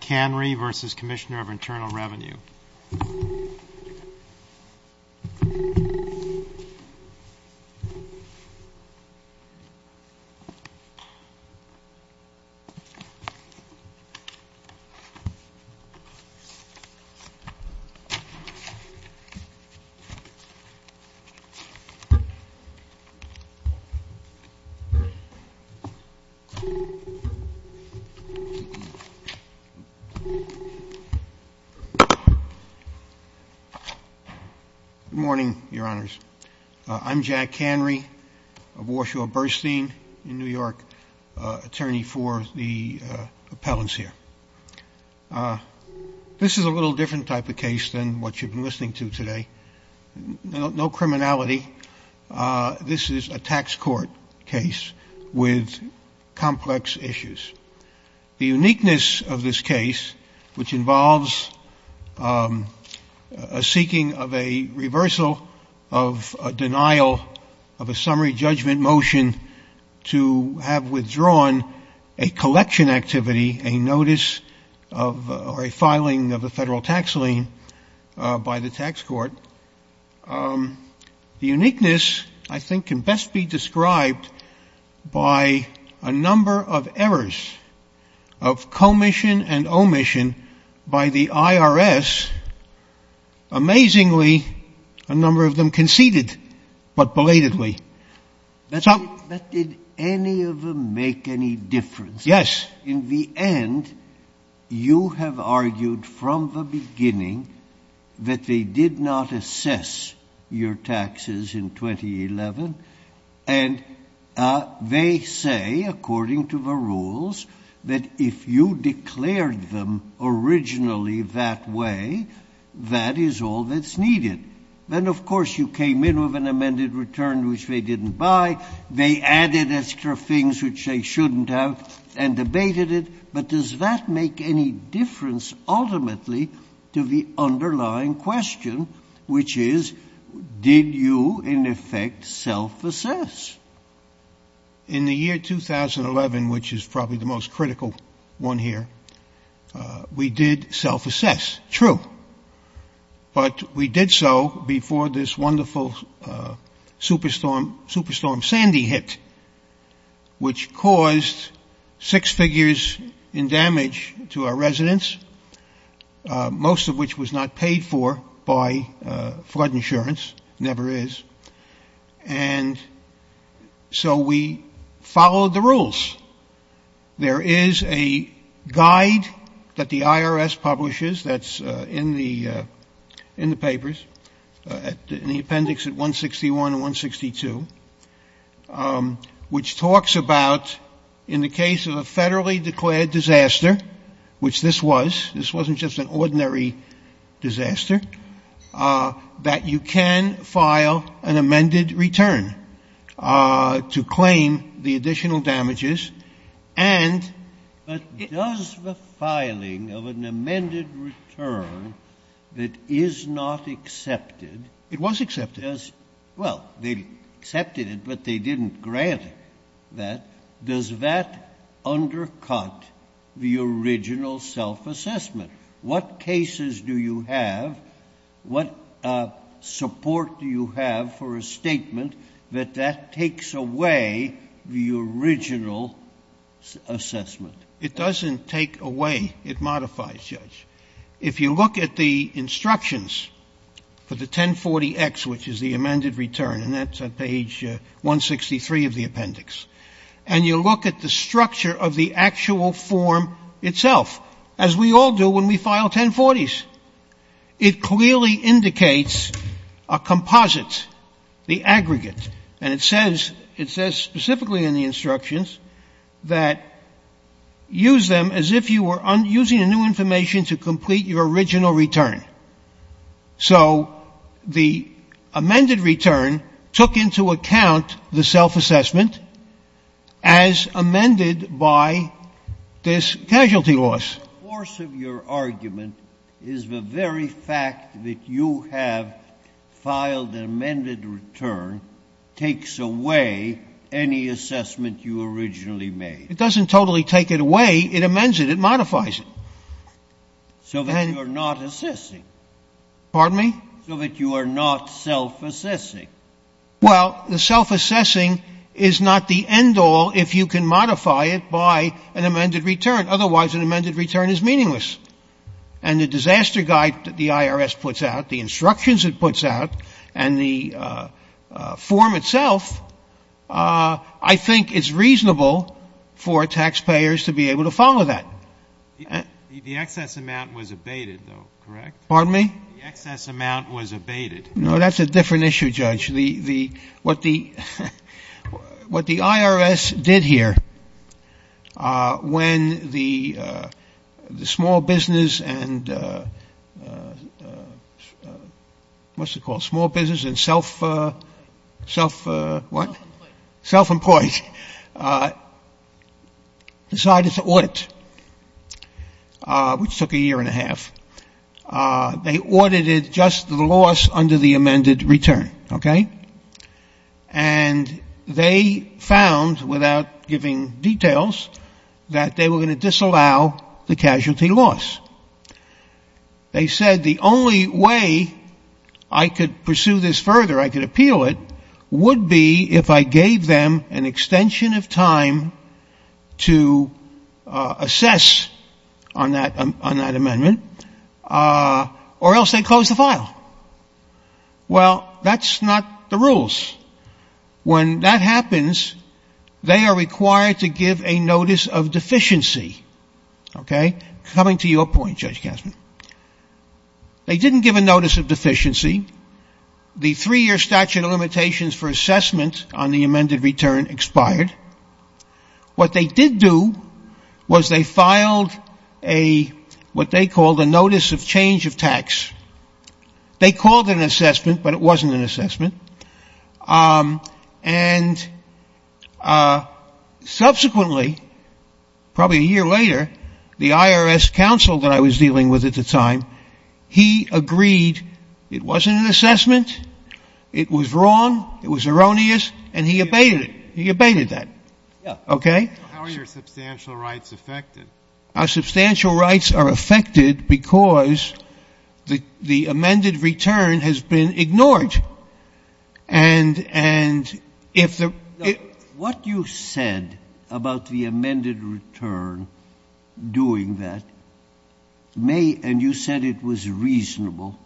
rnal Revenue. Good morning, your honors. I'm Jack Canry of Warshaw Burstein in New York, attorney for the appellants here. This is a little different type of case than what you've been listening to today. No criminality. This is a tax court case with complex issues. The uniqueness of this case, which involves a seeking of a reversal of denial of a summary judgment motion to have withdrawn a collection activity, a notice of a filing of a federal tax lien by the tax court. The uniqueness, I think, can best be described by a number of errors. Of commission and omission by the IRS. Amazingly, a number of them conceded, but belatedly. But did any of them make any difference? In the end, you have argued from the beginning that they did not assess your taxes in 2011. And they say, according to the rules, that if you declared them originally that way, that is all that's needed. Then, of course, you came in with an amended return, which they didn't buy. They added extra things which they shouldn't have and debated it. But does that make any difference, ultimately, to the underlying question, which is, did you, in effect, self-assess? In the year 2011, which is probably the most critical one here, we did self-assess. True. But we did so before this wonderful superstorm Sandy hit, which caused six figures in damage to our residents, most of which was not paid for by flood insurance, never is. And so we followed the rules. There is a guide that the IRS publishes that's in the papers, in the appendix at 161 and 162, which talks about, in the case of a federally declared disaster, which this was, this wasn't just an ordinary disaster, that you can file an amended return to claim the additional damages. And does the filing of an amended return that is not accepted It was accepted. Well, they accepted it, but they didn't grant it. Does that undercut the original self-assessment? What cases do you have, what support do you have for a statement that that takes away the original assessment? If you look at the instructions for the 1040X, which is the amended return, and that's on page 163 of the appendix, and you look at the structure of the actual form itself, as we all do when we file 1040s, it clearly indicates a composite, the aggregate. And it says, it says specifically in the instructions that use them as if you were using a new information to complete your original return. So the amended return took into account the self-assessment as amended by this casualty loss. The force of your argument is the very fact that you have filed an amended return takes away any assessment you originally made. It doesn't totally take it away. It amends it. It modifies it. So that you are not assessing. Pardon me? So that you are not self-assessing. Well, the self-assessing is not the end all if you can modify it by an amended return. Otherwise, an amended return is meaningless. And the disaster guide that the IRS puts out, the instructions it puts out, and the form itself, I think it's reasonable for taxpayers to be able to follow that. The excess amount was abated, though, correct? Pardon me? The excess amount was abated. No, that's a different issue, Judge. What the IRS did here, when the small business and what's it called, small business and self, what? Self-employed. Self-employed. Decided to audit, which took a year and a half. They audited just the loss under the amended return, okay? And they found, without giving details, that they were going to disallow the casualty loss. They said the only way I could pursue this further, I could appeal it, would be if I gave them an extension of time to assess on that amendment, Well, that's not the rules. When that happens, they are required to give a notice of deficiency, okay? Coming to your point, Judge Gassman. They didn't give a notice of deficiency. The three-year statute of limitations for assessment on the amended return expired. What they did do was they filed a, what they called a notice of change of tax. They called it an assessment, but it wasn't an assessment. Subsequently, probably a year later, the IRS counsel that I was dealing with at the time, he agreed it wasn't an assessment, it was wrong, it was erroneous, and he abated it. He abated that, okay? How are your substantial rights affected? Our substantial rights are affected because the amended return has been ignored. What you said about the amended return doing that may, and you said it was reasonable,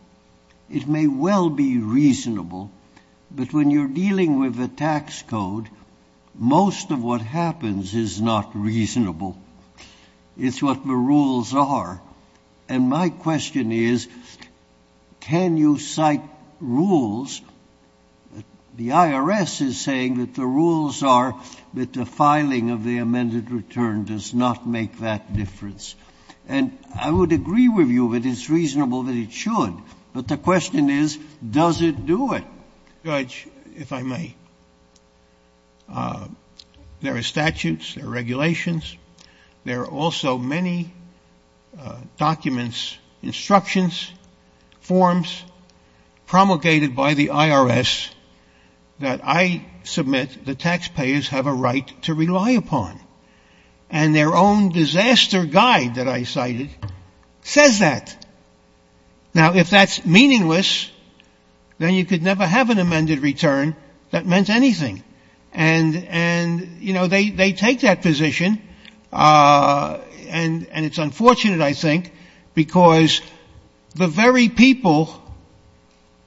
it may well be reasonable, but when you're dealing with a tax code, most of what happens is not reasonable. It's what the rules are, and my question is, can you cite rules? The IRS is saying that the rules are that the filing of the amended return does not make that difference, and I would agree with you that it's reasonable that it should, but the question is, does it do it? Judge, if I may, there are statutes, there are regulations, there are also many documents, instructions, forms promulgated by the IRS that I submit that taxpayers have a right to rely upon, and their own disaster guide that I cited says that. Now, if that's meaningless, then you could never have an amended return that meant anything, and, you know, they take that position, and it's unfortunate, I think, because the very people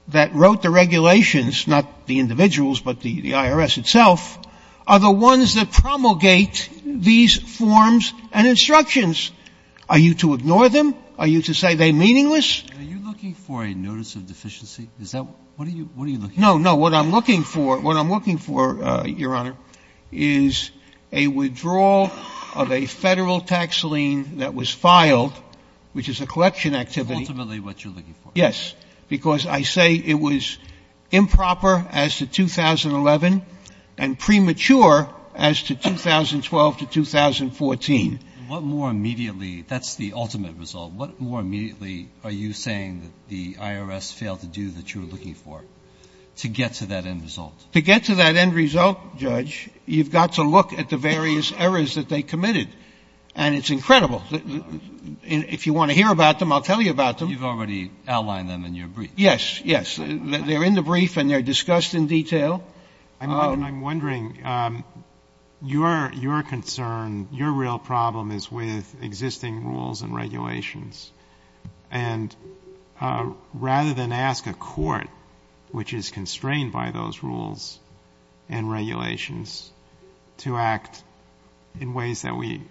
that wrote the regulations, not the individuals, but the IRS itself, are the ones that promulgate these forms and instructions. Are you to ignore them? Are you to say they're meaningless? Are you looking for a notice of deficiency? What are you looking for? No, no, what I'm looking for, Your Honor, is a withdrawal of a Federal tax lien that was filed, which is a collection activity. Ultimately, what you're looking for. Yes, because I say it was improper as to 2011 and premature as to 2012 to 2014. What more immediately, that's the ultimate result, what more immediately are you saying that the IRS failed to do that you're looking for to get to that end result? To get to that end result, Judge, you've got to look at the various errors that they committed, and it's incredible. If you want to hear about them, I'll tell you about them. You've already outlined them in your brief. Yes, yes. They're in the brief, and they're discussed in detail. I'm wondering, your concern, your real problem is with existing rules and regulations, and rather than ask a court, which is constrained by those rules and regulations, to act in ways that we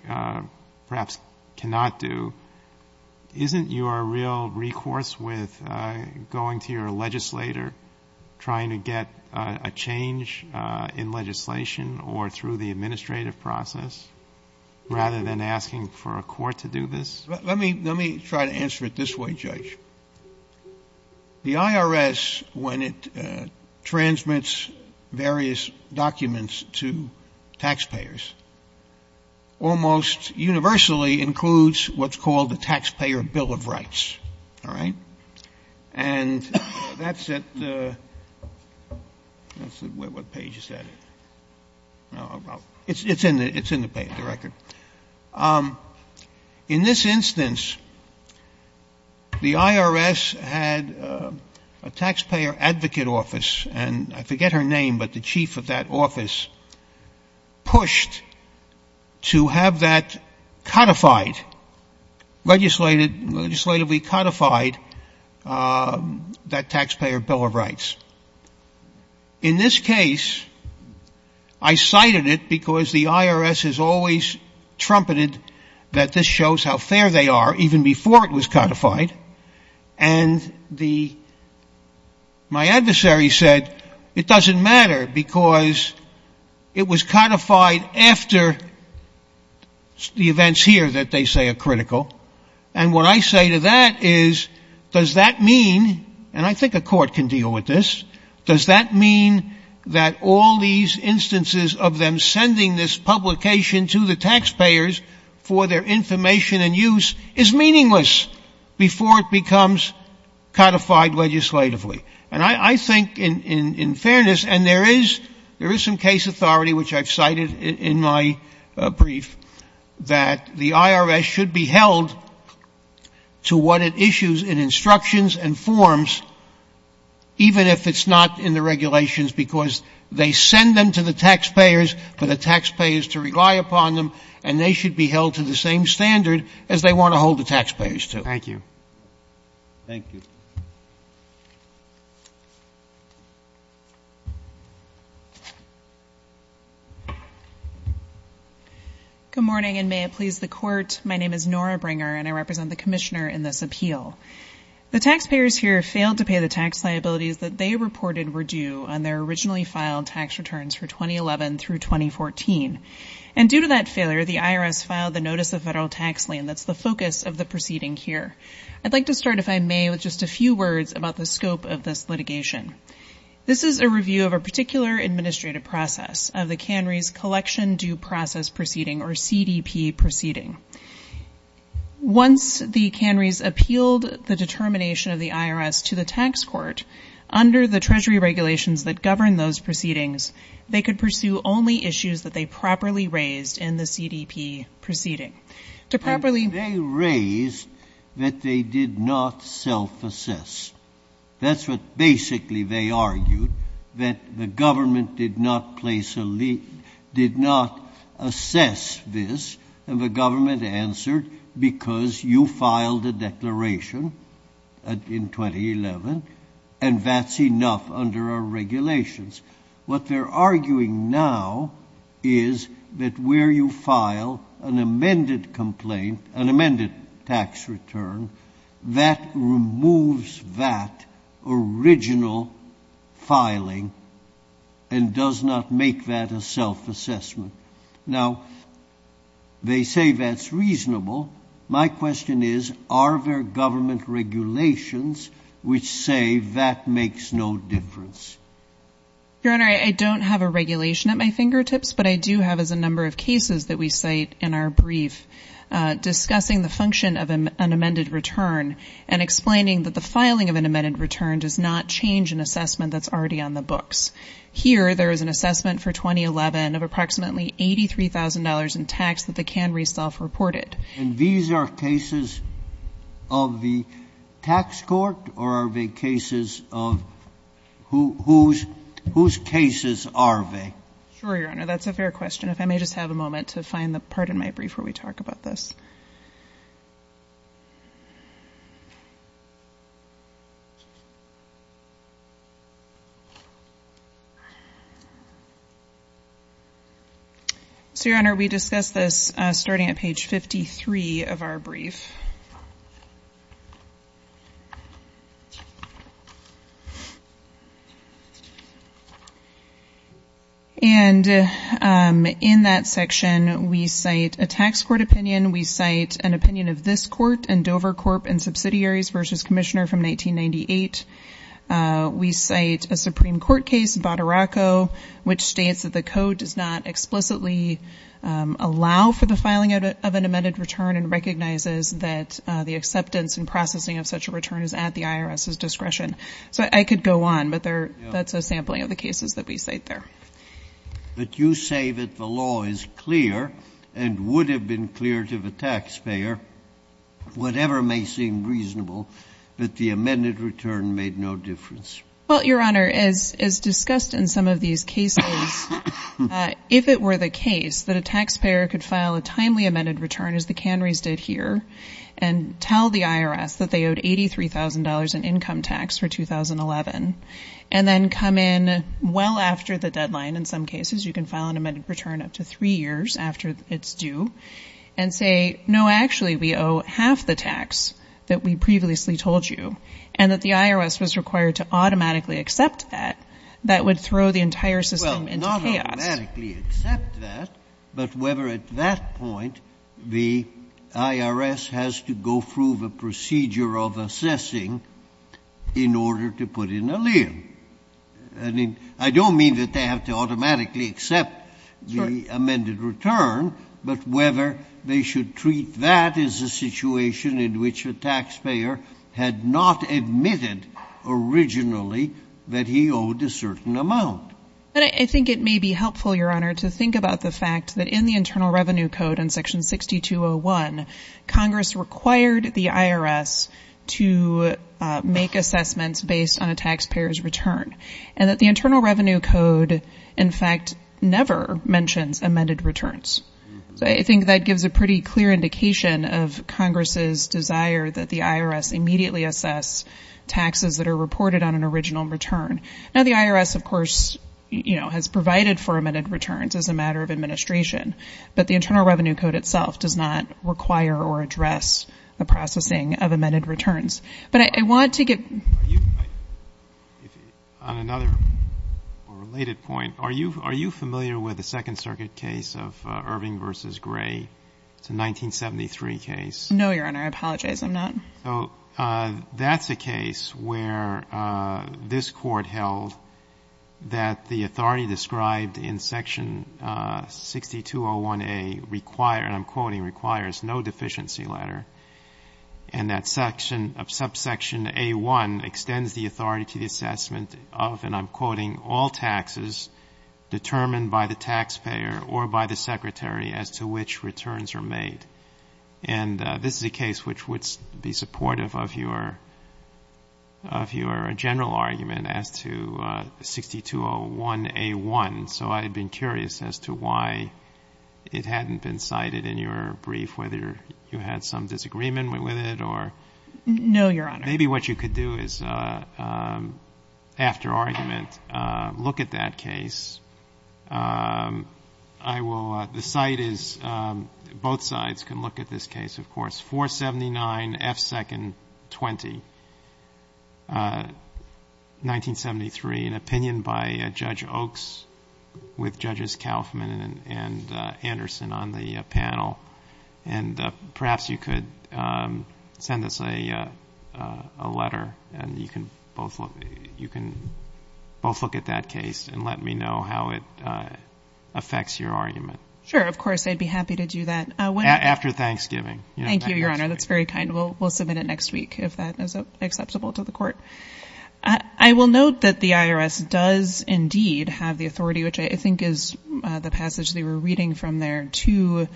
perhaps cannot do, isn't your real recourse with going to your legislator trying to get a change in legislation or through the administrative process rather than asking for a court to do this? Let me try to answer it this way, Judge. The IRS, when it transmits various documents to taxpayers, almost universally includes what's called the Taxpayer Bill of Rights. All right? And that's at the — what page is that? It's in the page, the record. In this instance, the IRS had a Taxpayer Advocate Office, and I forget her name, but the chief of that office pushed to have that codified, legislatively codified, that Taxpayer Bill of Rights. In this case, I cited it because the IRS has always trumpeted that this shows how fair they are, even before it was codified, and my adversary said, it doesn't matter because it was codified after the events here that they say are critical, and what I say to that is, does that mean, and I think a court can deal with this, does that mean that all these instances of them sending this publication to the taxpayers for their information and use is meaningless before it becomes codified legislatively? And I think, in fairness, and there is some case authority, which I've cited in my brief, that the IRS should be held to what it issues in instructions and forms, even if it's not in the regulations, because they send them to the taxpayers for the taxpayers to rely upon them, and they should be held to the same standard as they want to hold the taxpayers to. Thank you. Thank you. Thank you. Good morning, and may it please the Court, my name is Nora Bringer, and I represent the Commissioner in this appeal. The taxpayers here failed to pay the tax liabilities that they reported were due on their originally filed tax returns for 2011 through 2014, and due to that failure, the IRS filed the Notice of Federal Tax Lien, that's the focus of the proceeding here. I'd like to start, if I may, with just a few words about the scope of this litigation. This is a review of a particular administrative process of the Cannery's Collection Due Process Proceeding, or CDP proceeding. Once the Cannery's appealed the determination of the IRS to the tax court, under the Treasury regulations that govern those proceedings, they could pursue only issues that they properly raised in the CDP proceeding. They raised that they did not self-assess. That's what basically they argued, that the government did not place a lead, did not assess this, and the government answered, because you filed a declaration in 2011, and that's enough under our regulations. What they're arguing now is that where you file an amended tax return, that removes that original filing, and does not make that a self-assessment. Now, they say that's reasonable. My question is, are there government regulations which say that makes no difference? Your Honor, I don't have a regulation at my fingertips, but I do have, as a number of cases that we cite in our brief, discussing the function of an amended return, and explaining that the filing of an amended return does not change an assessment that's already on the books. Here, there is an assessment for 2011 of approximately $83,000 in tax that the Cannery self-reported. And these are cases of the tax court, or are they cases of, whose cases are they? Sure, Your Honor, that's a fair question. If I may just have a moment to find the part in my brief where we talk about this. So, Your Honor, we discussed this starting at page 53 of our brief. And in that section, we cite a tax court opinion, we cite an opinion of this court and Dover Corp. and Subsidiaries v. Commissioner from 1998. We cite a Supreme Court case, Badaracco, which states that the code does not explicitly allow for the filing of an amended return and recognizes that the acceptance and processing of such a return is at the IRS's discretion. So I could go on, but that's a sampling of the cases that we cite there. So, Your Honor, if I may just have a moment to find the part in my brief where we talk about this case. Well, Your Honor, as discussed in some of these cases, if it were the case that a taxpayer could file a timely amended return, as the Cannery's did here, and tell the IRS that they owed $83,000 in income tax for 2011, and then come in well after the deadline, in some cases, you can file an amended return up to three years after it's due, and say, no, actually, we owe half the tax that we previously told you, and that the IRS was required to automatically accept that, that would throw the entire system into chaos. Well, not automatically accept that, but whether at that point the IRS has to go through the procedure of assessing in order to put in a lien. I mean, I don't mean that they have to automatically accept the amended return, but whether they should treat that as a situation in which a taxpayer had not admitted originally that he owed a certain amount. But I think it may be helpful, Your Honor, to think about the fact that in the Internal Revenue Code in Section 6201, Congress required the IRS to make assessments based on a taxpayer's return. And that the Internal Revenue Code, in fact, never mentions amended returns. So I think that gives a pretty clear indication of Congress's desire that the IRS immediately assess taxes that are reported on an original return. Now, the IRS, of course, has provided for amended returns as a matter of administration, but the Internal Revenue Code itself does not require or address the processing of amended returns. But I want to get ---- On another related point, are you familiar with the Second Circuit case of Irving v. Gray? It's a 1973 case. No, Your Honor. I apologize. I'm not. So that's a case where this Court held that the authority described in Section 6201A requires, and I'm quoting, requires no deficiency letter, and that subsection A1 extends the authority to the assessment of, and I'm quoting, all taxes determined by the taxpayer or by the secretary as to which returns are made. And this is a case which would be supportive of your general argument as to 6201A1. So I had been curious as to why it hadn't been cited in your brief, whether you had some disagreement with it or ---- No, Your Honor. Maybe what you could do is, after argument, look at that case. I will ---- The site is ---- Both sides can look at this case, of course. 479F2-20, 1973, an opinion by Judge Oaks with Judges Kaufman and Anderson on the panel. And perhaps you could send us a letter and you can both look at that case and let me know how it affects your argument. Sure, of course. I'd be happy to do that. After Thanksgiving. Thank you, Your Honor. That's very kind. We'll submit it next week if that is acceptable to the Court. I will note that the IRS does indeed have the authority, which I think is the passage they were reading from there, to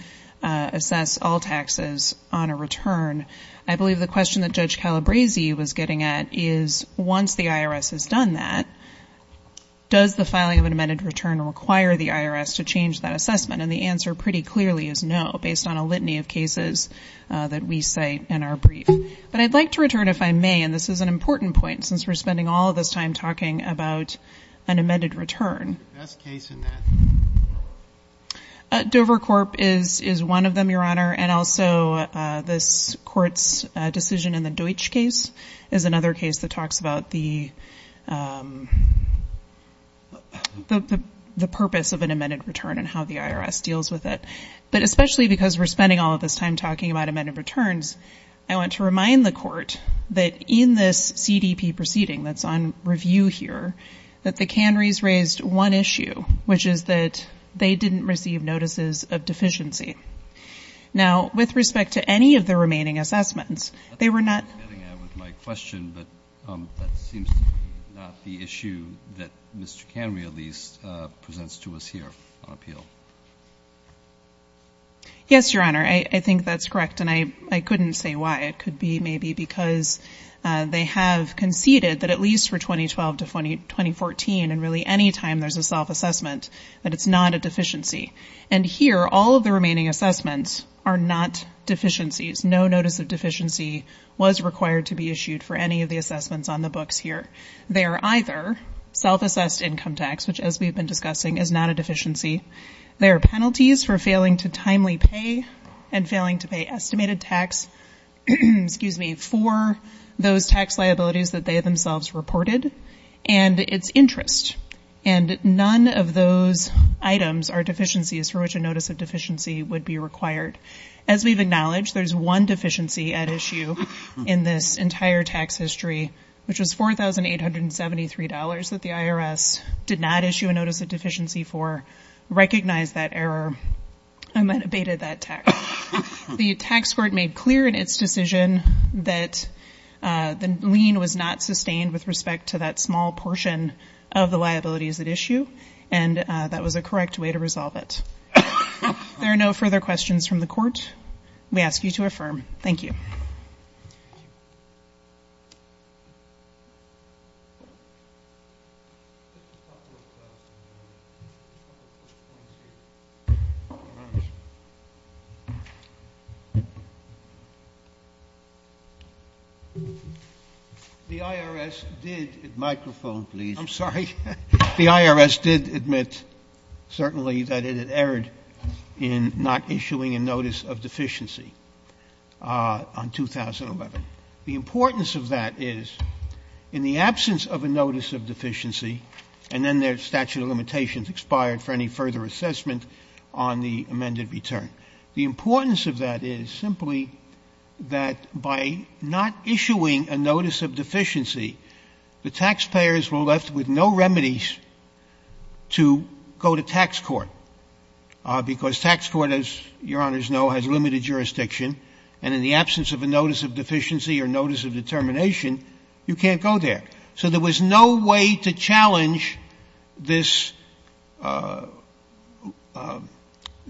assess all taxes on a return. I believe the question that Judge Calabresi was getting at is, once the IRS has done that, does the filing of an amended return require the IRS to change that assessment? And the answer pretty clearly is no, based on a litany of cases that we cite in our brief. But I'd like to return, if I may, and this is an important point, since we're spending all of this time talking about an amended return. Dover Corp. is one of them, Your Honor. And also this Court's decision in the Deutsch case is another case that talks about the purpose of an amended return and how the IRS deals with it. But especially because we're spending all of this time talking about amended returns, I want to remind the Court that in this CDP proceeding that's on review here, that the Kanrys raised one issue, which is that they didn't receive notices of deficiency. Now, with respect to any of the remaining assessments, they were not ---- I'm getting at with my question, but that seems not the issue that Mr. Kanry, at least, presents to us here on appeal. Yes, Your Honor, I think that's correct, and I couldn't say why. It could be maybe because they have conceded that at least for 2012 to 2014, and really any time there's a self-assessment, that it's not a deficiency. And here, all of the remaining assessments are not deficiencies. No notice of deficiency was required to be issued for any of the assessments on the books here. They are either self-assessed income tax, which, as we've been discussing, is not a deficiency. There are penalties for failing to timely pay and failing to pay estimated tax for those tax liabilities that they themselves reported, and it's interest. And none of those items are deficiencies for which a notice of deficiency would be required. As we've acknowledged, there's one deficiency at issue in this entire tax history, which was $4,873 that the IRS did not issue a notice of deficiency for, recognized that error, and then abated that tax. The tax court made clear in its decision that the lien was not sustained with respect to that small portion of the liabilities at issue, and that was a correct way to resolve it. There are no further questions from the court. We ask you to affirm. Thank you. Thank you. The IRS did — microphone, please. I'm sorry. The IRS did admit, certainly, that it had erred in not issuing a notice of deficiency. The importance of that is, in the absence of a notice of deficiency, and then their statute of limitations expired for any further assessment on the amended return. The importance of that is simply that by not issuing a notice of deficiency, the taxpayers were left with no remedies to go to tax court, because tax court, as Your Honors know, has limited jurisdiction, and in the absence of a notice of deficiency or notice of determination, you can't go there. So there was no way to challenge this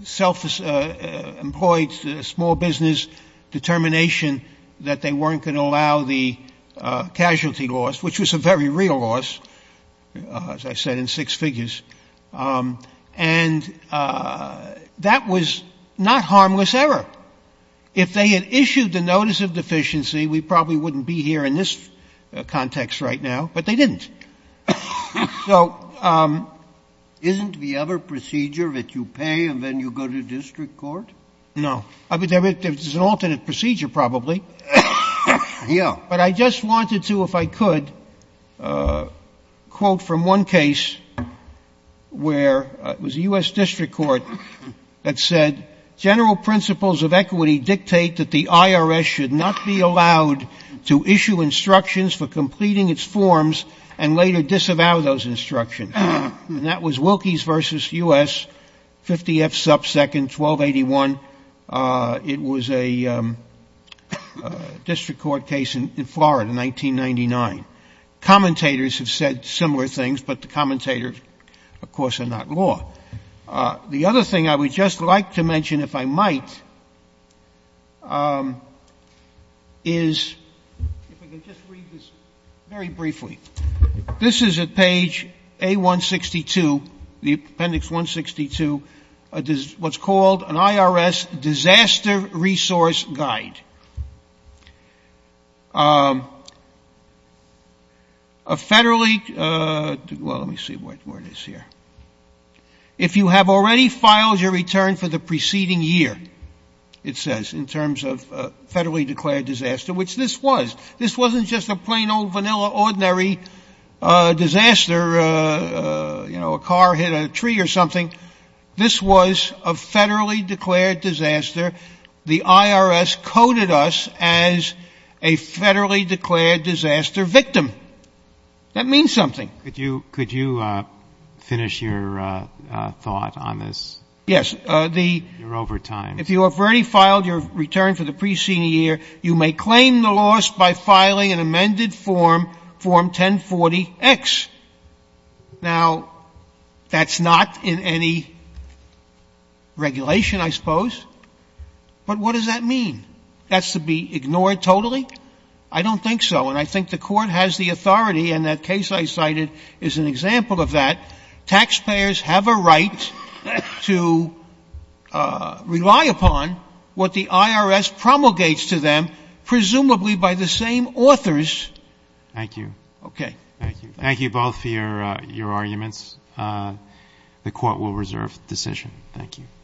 self-employed small business determination that they weren't going to allow the casualty loss, which was a very real loss, as I said, in six figures. And that was not harmless error. If they had issued the notice of deficiency, we probably wouldn't be here in this context right now, but they didn't. Isn't the other procedure that you pay and then you go to district court? Yeah. But I just wanted to, if I could, quote from one case where it was a U.S. district court that said, general principles of equity dictate that the IRS should not be allowed to issue instructions for completing its forms and later disavow those instructions. And that was Wilkies v. U.S., 50 F. sub second, 1281. It was a district court case in Florida, 1999. Commentators have said similar things, but the commentators, of course, are not law. The other thing I would just like to mention, if I might, is, if we can just read this very briefly. This is at page A162, the appendix 162, what's called an IRS disaster resource guide. A federally, well, let me see where it is here. If you have already filed your return for the preceding year, it says, in terms of federally declared disaster, which this was, this wasn't just a plain old vanilla, ordinary disaster, you know, a car hit a tree or something, this was a federally declared disaster. The IRS coded us as a federally declared disaster victim. That means something. Yes. If you have already filed your return for the preceding year, you may claim the loss by filing an amended form, Form 1040X. Now, that's not in any regulation, I suppose. But what does that mean? That's to be ignored totally? I don't think so, and I think the Court has the authority, and that case I cited is an example of that. Taxpayers have a right to rely upon what the IRS promulgates to them, presumably by the same authors. Thank you. Okay.